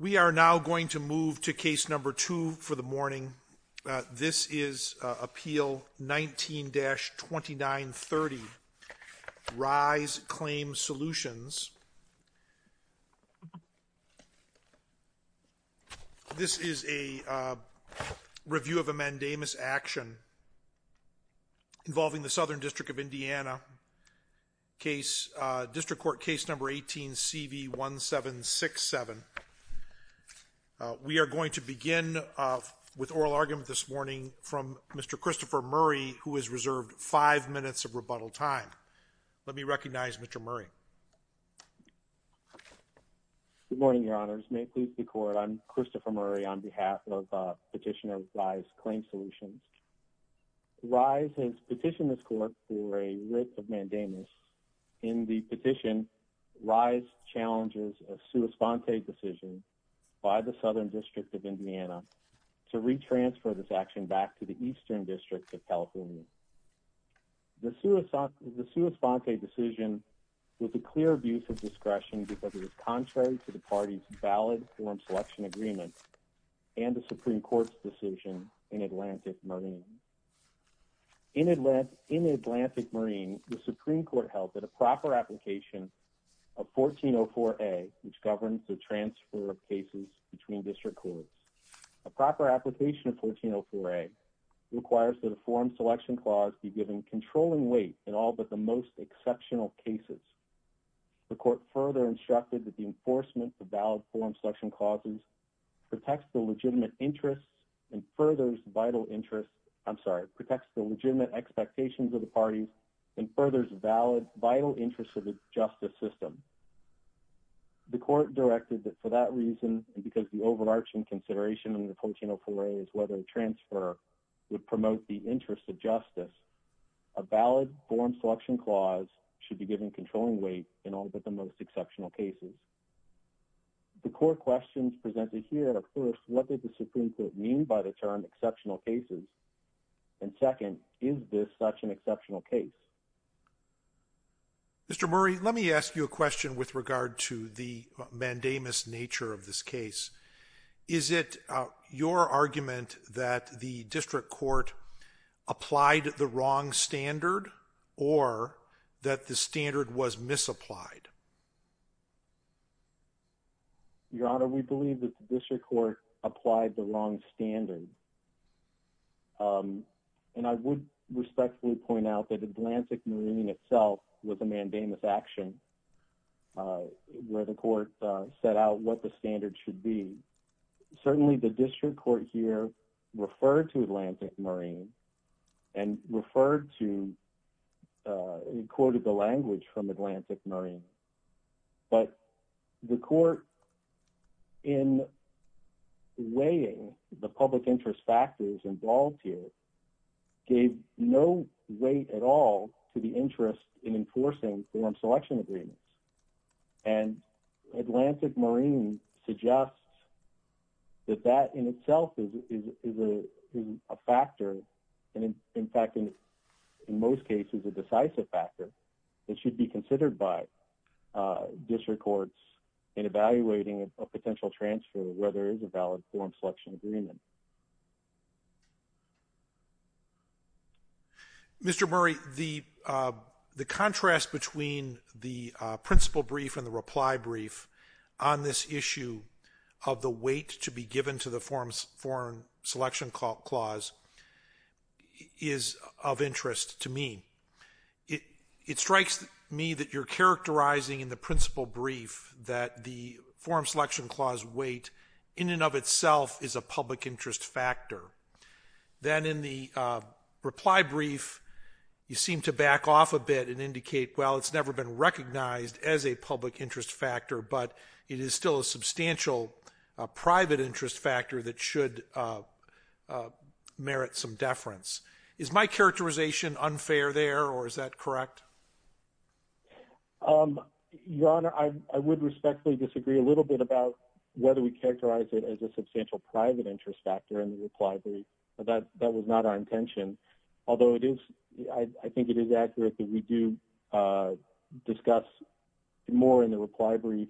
We are now going to move to case number two for the morning. This is Appeal 19-2930, Ryze Claim Solutions. This is a review of a mandamus action involving the Southern District of Indiana, District Court Case Number 18-CV1767. We are going to begin with oral argument this morning from Mr. Christopher Murray, who has reserved five minutes of rebuttal time. Let me recognize Mr. Murray. Good morning, Your Honors. May it please the Court, I'm Christopher Murray on behalf of Petitioner Ryze Claim Solutions. Ryze has petitioned this Court for a writ of mandamus. In the petition, Ryze challenges a sua sponte decision by the Southern District of Indiana to retransfer this action back to the Eastern District of California. The sua sponte decision was a clear abuse of discretion because it was contrary to the party's In Atlantic Marine, the Supreme Court held that a proper application of 1404A, which governs the transfer of cases between district courts, a proper application of 1404A requires that a forum selection clause be given controlling weight in all but the most exceptional cases. The Court further instructed that the enforcement of valid forum selection clauses protects the legitimate interests and furthers vital interest, I'm sorry, protects the legitimate expectations of the party and furthers vital interest of the justice system. The Court directed that for that reason, and because the overarching consideration in the 1404A is whether a transfer would promote the interest of justice, a valid forum selection clause should be given controlling weight in all but the most exceptional cases. The core questions presented here are first, what did the Supreme Court mean by the term exceptional cases? And second, is this such an exceptional case? Mr. Murray, let me ask you a question with regard to the mandamus nature of this case. Is it your argument that the district court applied the wrong standard or that the standard was misapplied? Your Honor, we believe that the district court applied the wrong standard. And I would respectfully point out that Atlantic Marine itself was a mandamus action where the court set out what the standard should be. Certainly the district court here referred to Atlantic Marine and referred to and quoted the language from Atlantic Marine. But the court in weighing the public interest factors involved here gave no weight at all to the interest in enforcing forum selection agreements. And Atlantic Marine suggests that that in itself is a factor and in fact in most cases a decisive factor that should be considered by district courts in evaluating a potential transfer where there is a valid forum selection agreement. Mr. Murray, the contrast between the principle brief and the reply brief on this issue of the weight to be given to the forum selection clause is of interest to me. It strikes me that you're characterizing in the principle brief that the forum selection clause weight in and of itself is a public interest factor. Then in the reply brief you seem to back off a bit and indicate well it's never been recognized as a public interest factor but it is still a substantial private interest factor that should merit some deference. Is my characterization unfair there or is that correct? Your Honor, I would respectfully disagree a little bit about whether we characterize it as a substantial private interest factor in the reply brief. That was not our intention. Although I think it is accurate that we do discuss more in the reply brief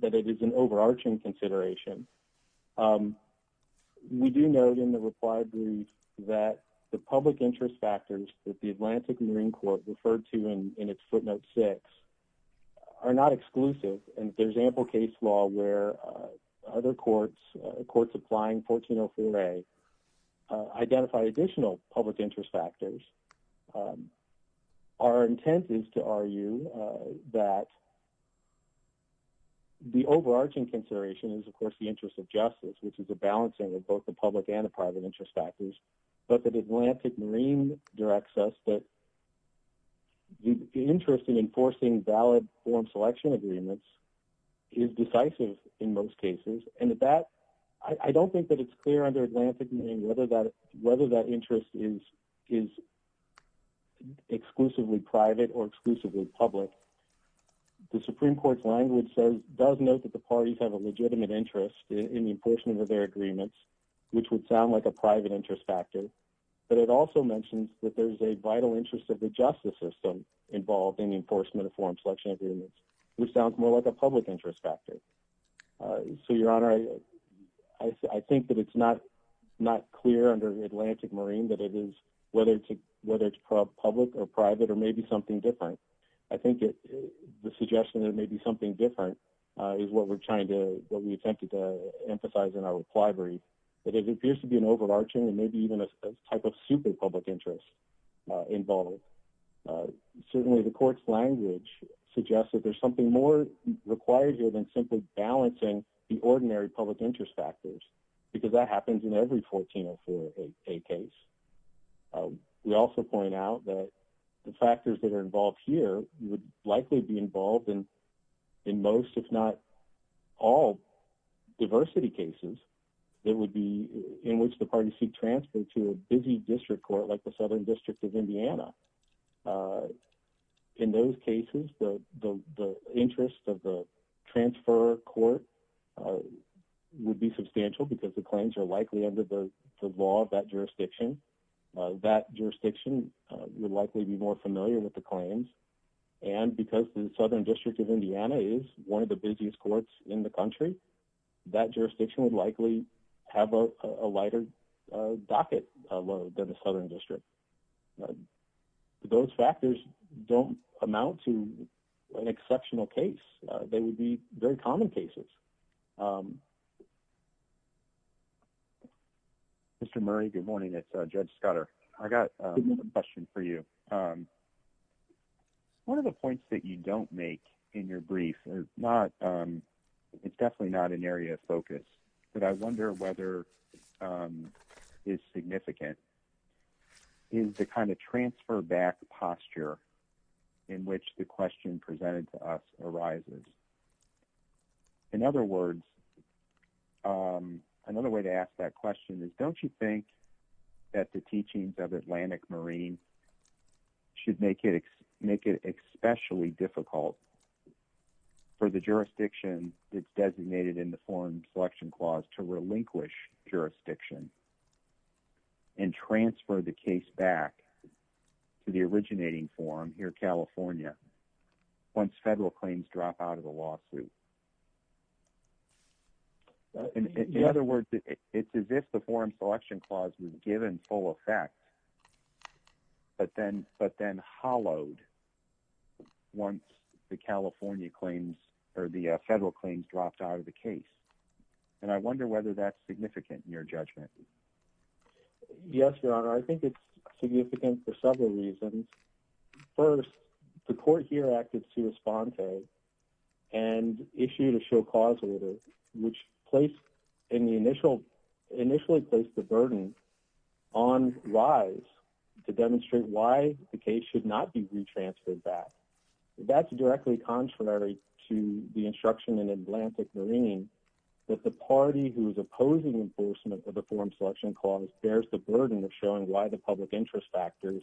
that it is an overarching consideration. We do note in the reply brief that the public interest factors that the Atlantic Marine Court referred to in its footnote 6 are not exclusive and there is ample case law where other courts applying 1404A identified additional public interest factors. Our intent is to argue that the overarching consideration is of course the interest of justice which is a balancing of both the public and the private interest factors but that the Atlantic Marine directs us that the interest in enforcing valid form selection agreements is decisive in most cases. I don't think that it is clear under Atlantic Marine whether that interest is exclusively private or exclusively public. The Supreme Court's language does note that the parties have a legitimate interest in the enforcement of their agreements which would sound like a private interest factor but it also mentions that there is a vital interest of the justice system involved in the enforcement of form selection agreements which sounds more like a public interest factor. Your Honor, I think that it is not clear under Atlantic Marine that it is whether it is public or private or maybe something different. I think the suggestion that it may be something different is what we attempted to emphasize in our requirements. It appears to be an overarching and maybe even a type of super public interest involved. Certainly the court's language suggests that there is something more required here than simply balancing the ordinary public interest factors because that happens in every 1404A case. We also point out that the factors that are involved here would likely be involved in most if not all diversity cases in which the parties seek transfer to a busy district court like the Southern District of Indiana. In those cases, the interest of the transfer court would be substantial because the claims are likely under the law of that jurisdiction. That jurisdiction would likely be more familiar with the claims and because the Southern District of Indiana is one of the busiest courts in the country, that jurisdiction would likely have a lighter docket load than the Southern District. Those factors don't amount to an exceptional case. They would be very common cases. Mr. Murray, good morning. It's Judge Scudder. I've got a question for you. One of the points that you don't make in your brief is definitely not an area of focus but I wonder whether it's significant is the kind of transfer back posture in which the question presented to us arises. In other words, another way to ask that question is don't you think that the teachings of Atlantic Marine should make it especially difficult for the jurisdiction that's designated in the Foreign Selection Clause to relinquish jurisdiction and transfer the case back to the originating forum here in California once federal claims drop out of the lawsuit? In other words, it's as if the Foreign Selection Clause was given full effect but then hollowed once the California claims or the federal claims dropped out of the case. I wonder whether that's significant in your judgment. Yes, Your Honor. I think it's significant for several reasons. First, the court here acted sui sponte and issued a show cause order which initially placed the burden on rise to demonstrate why the case should not be retransferred back. That's directly contrary to the instruction in Atlantic Marine that the party who is opposing enforcement of the Foreign Selection Clause bears the burden of showing why the public interest factors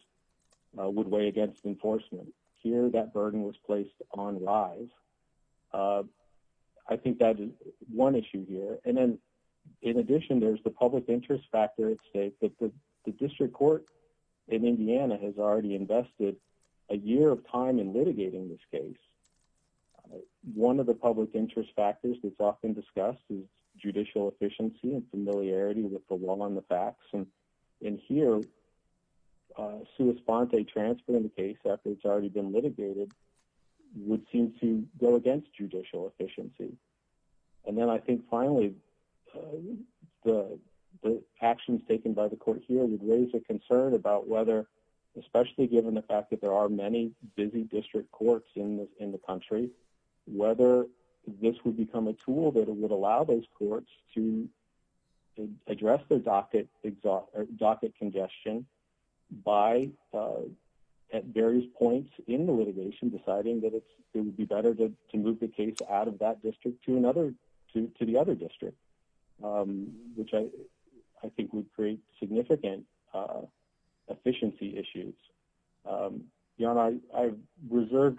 would weigh against enforcement. Here, that burden was placed on rise. I think that's one issue here. In addition, there's the public interest factor at stake. The district court in Indiana has already invested a year of time in litigating this case. One of the public interest factors that's often discussed is judicial efficiency and familiarity with the law and the facts. Here, sui sponte transferring the case after it's already been litigated would seem to go against judicial efficiency. I think finally, the actions taken by the court here would raise a concern about whether, especially given the fact that there are many busy district courts in the country, whether this would become a tool that would allow those courts to address their docket congestion at various points in the litigation deciding that it would be better to move the case out of that district to the other district, which I think would create significant efficiency issues. I reserve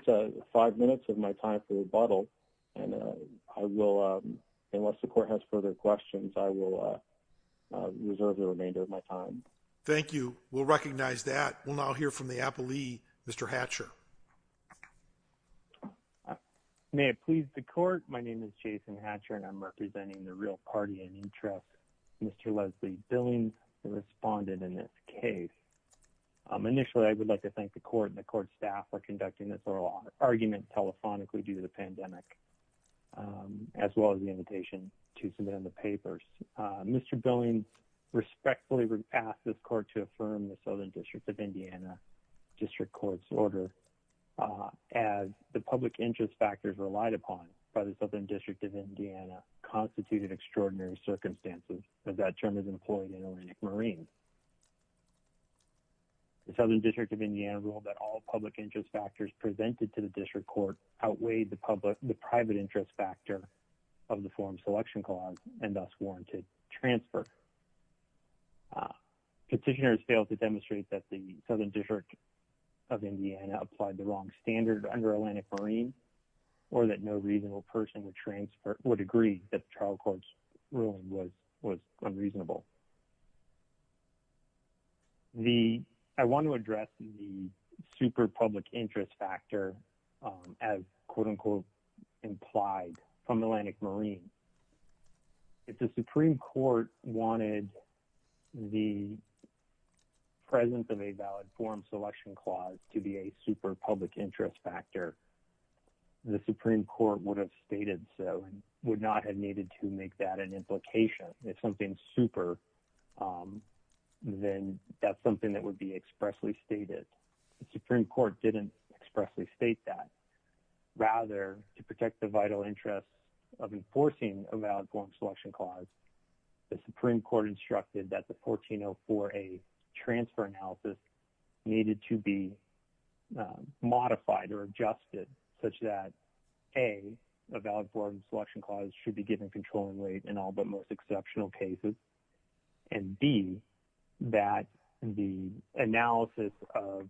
five minutes of my time for rebuttal. Unless the court has further questions, I will reserve the remainder of my time. Thank you. We'll recognize that. We'll now hear from the appellee, Mr. Hatcher. May it please the court, my name is Jason Hatcher, and I'm representing the real party in interest. Mr. Leslie Billings, the respondent in this case. Initially, I would like to thank the court and the court staff for conducting this oral argument telephonically due to the pandemic, as well as the invitation to submit on the papers. Mr. Billings respectfully asked this court to affirm the Southern District of Indiana District Court's order as the public interest factors relied upon by the Southern District of Indiana constituted extraordinary circumstances, as that term is employed in Atlantic Marine. The Southern District of Indiana ruled that all public interest factors presented to the district court outweighed the private interest factor of the forum selection clause and thus warranted transfer. Petitioners failed to demonstrate that the Southern District of Indiana applied the wrong standard under Atlantic Marine or that no reasonable person would agree that the trial court's ruling was unreasonable. I want to address the super public interest factor as quote unquote implied from Atlantic Marine. If the Supreme Court wanted the presence of a valid forum selection clause to be a super public interest factor, the Supreme Court would have stated so and would not have needed to make that an implication. If something's super, then that's something that would be expressly stated. The Supreme Court didn't expressly state that. Rather, to protect the vital interest of enforcing a valid forum selection clause, the Supreme Court instructed that the 1404A transfer analysis needed to be modified or adjusted such that A, a valid forum selection clause should be given controlling weight in all but most exceptional cases and B, that the analysis of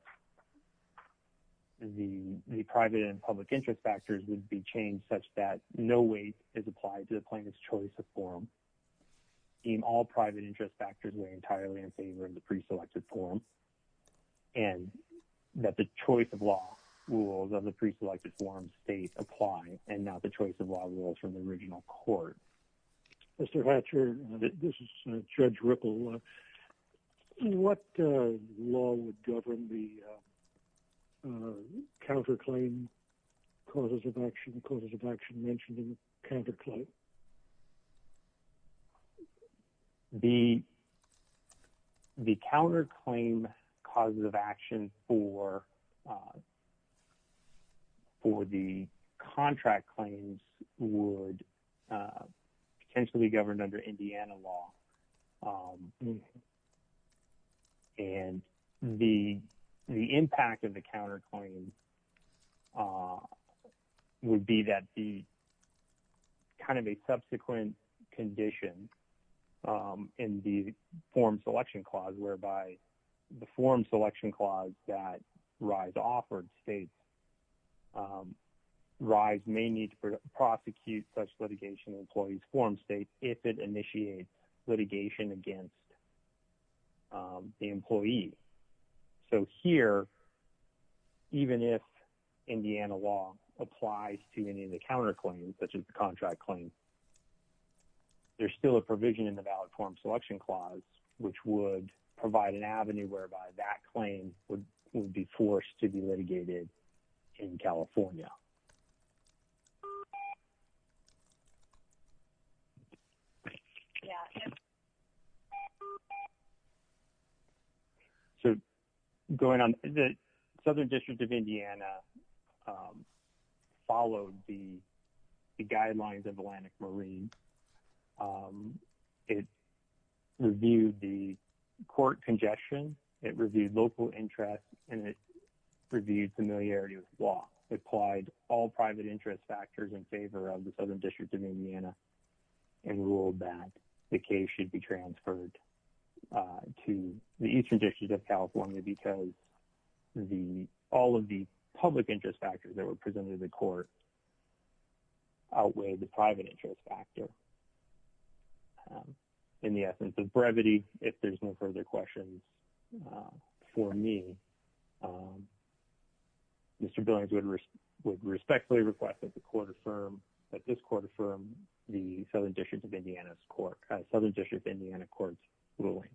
the private and public interest factors would be changed such that no weight is applied to the plaintiff's choice of forum in all private interest factors were entirely in favor of the preselected forum and that the choice of law rules of the preselected forum state apply and not the choice of law rules from the original court. Mr. Hatcher, this is Judge Ripple. What law would govern the counterclaim causes of action, causes of action mentioned in the counterclaim? The counterclaim causes of action for the contract claims would potentially be governed under Indiana law. And the impact of the counterclaim would be that the kind of a subsequent condition in the forum selection clause whereby the forum selection clause that RISE offered states that RISE may need to prosecute such litigation in an employee's forum state if it initiates litigation against the employee. So here, even if Indiana law applies to any of the counterclaims such as the contract claims, there's still a provision in the valid forum selection clause which would provide an avenue whereby that claim would be forced to be litigated in California. So going on, the Southern District of Indiana followed the guidelines of Atlantic Marine. It reviewed the court congestion, it reviewed local interest, and it reviewed familiarity with the law. It applied all private interest factors in favor of the Southern District of Indiana and ruled that the case should be transferred to the Eastern District of California because all of the public interest factors that were presented to the court outweighed the private interest factor. In the essence of brevity, if there's no further questions for me, Mr. Billings would respectfully request that the court affirm, that this court affirm the Southern District of Indiana Court's ruling.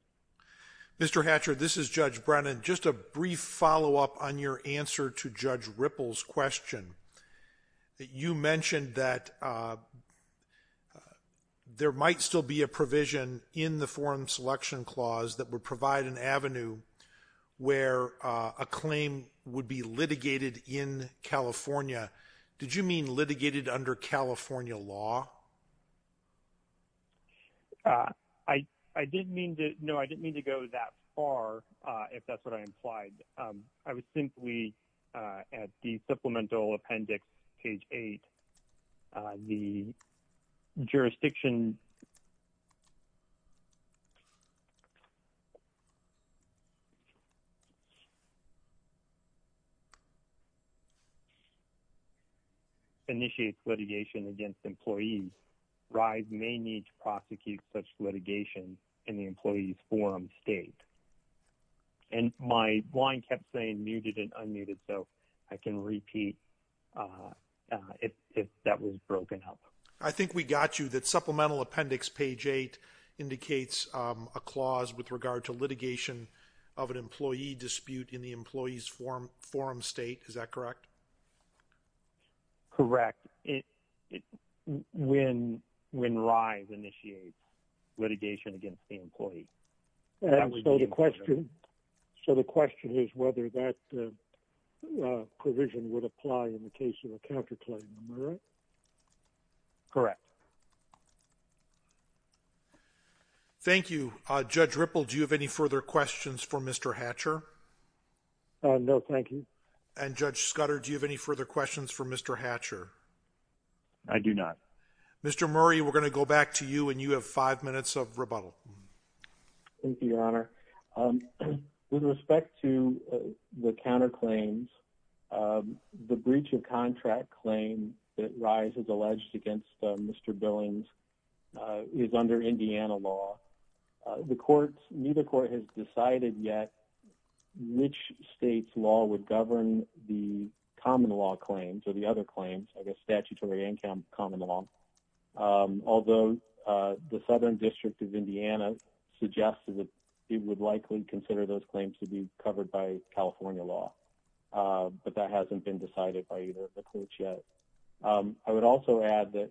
Mr. Hatcher, this is Judge Brennan. Just a brief follow-up on your answer to Judge Ripple's question. You mentioned that there might still be a provision in the forum selection clause that would provide an avenue where a claim would be litigated in California. Did you mean litigated under California law? No, I didn't mean to go that far, if that's what I implied. I was simply at the supplemental appendix, page 8. The jurisdiction initiates litigation against employees. RISE may need to prosecute such litigation in the employee's forum state. My line kept saying muted and unmuted, so I can repeat if that was broken up. I think we got you. The supplemental appendix, page 8, indicates a clause with regard to litigation of an employee dispute in the employee's forum state. Is that correct? When RISE initiates litigation against the employee. So the question is whether that provision would apply in the case of a counterclaim, am I right? Correct. Thank you. Judge Ripple, do you have any further questions for Mr. Hatcher? No, thank you. And Judge Scudder, do you have any further questions for Mr. Hatcher? I do not. Mr. Murray, we're going to go back to you, and you have five minutes of rebuttal. Thank you, Your Honor. With respect to the counterclaims, the breach of contract claim that RISE has alleged against Mr. Billings is under Indiana law. Neither court has decided yet which state's law would govern the common law claims or the other claims, I guess statutory and common law, although the Southern District of Indiana suggested that it would likely consider those claims to be covered by California law. But that hasn't been decided by either of the courts yet. I would also add that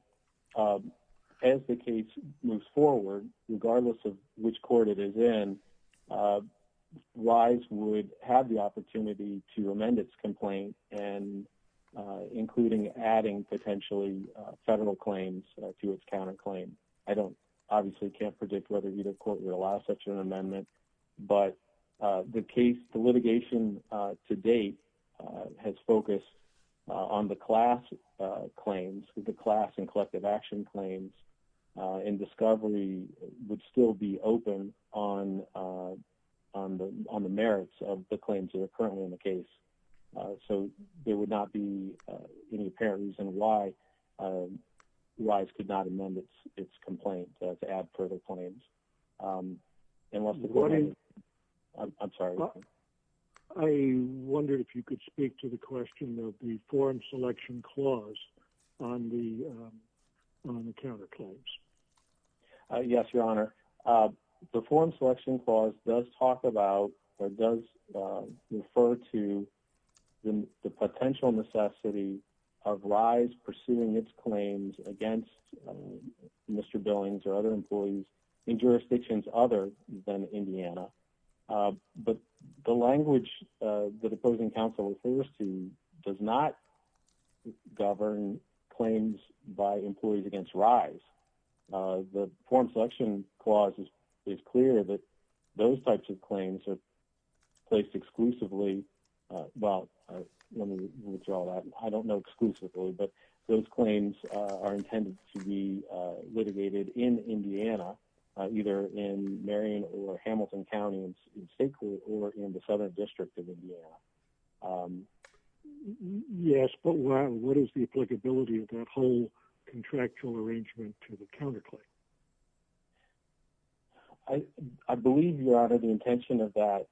as the case moves forward, regardless of which court it is in, RISE would have the opportunity to amend its complaint, including adding potentially federal claims to its counterclaim. I obviously can't predict whether either court would allow such an amendment. But the litigation to date has focused on the class claims, the class and collective action claims, and discovery would still be open on the merits of the claims that are currently in the case. So there would not be any apparent reason why RISE could not amend its complaint to add federal claims. I'm sorry. I wondered if you could speak to the question of the form selection clause on the counterclaims. Yes, Your Honor. The form selection clause does talk about or does refer to the potential necessity of RISE pursuing its claims against Mr. Billings or other employees in jurisdictions other than Indiana. But the language that opposing counsel refers to does not govern claims by employees against RISE. The form selection clause is clear that those types of claims are placed exclusively. Well, let me withdraw that. I don't know exclusively, but those claims are intended to be litigated in Indiana, either in Marion or Hamilton County or in the southern district of Indiana. Yes, but what is the applicability of that whole contractual arrangement to the counterclaim? I believe, Your Honor, the intention of that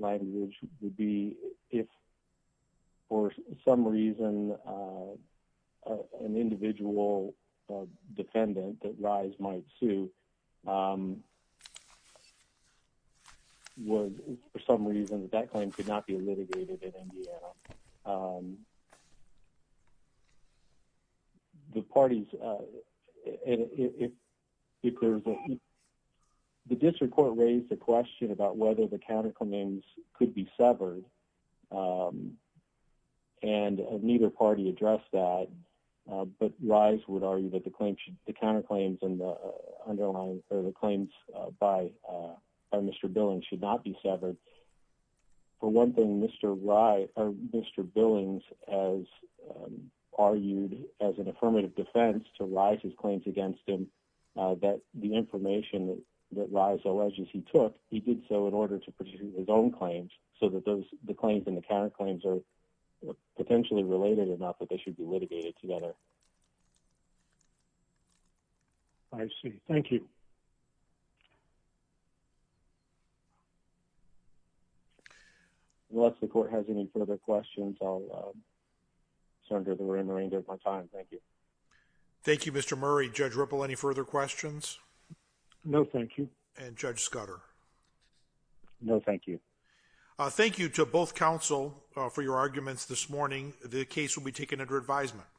language would be if for some reason an individual defendant that RISE might sue was for some reason that that claim could not be litigated in Indiana. The parties, if there's a, the district court raised the question about whether the counterclaims could be severed and neither party addressed that, but RISE would argue that the counterclaims and the underlying or the claims by Mr. Billings should not be severed. For one thing, Mr. Billings has argued as an affirmative defense to RISE's claims against him that the information that RISE alleges he took, he did so in order to pursue his own claims so that those, the claims and the counterclaims are potentially related enough that they should be litigated together. I see. Thank you. Unless the court has any further questions, I'll sunder the remainder of my time. Thank you. Thank you, Mr. Murray. Judge Ripple, any further questions? No, thank you. And Judge Scudder? No, thank you. Thank you to both counsel for your arguments this morning. The case will be taken under advisement.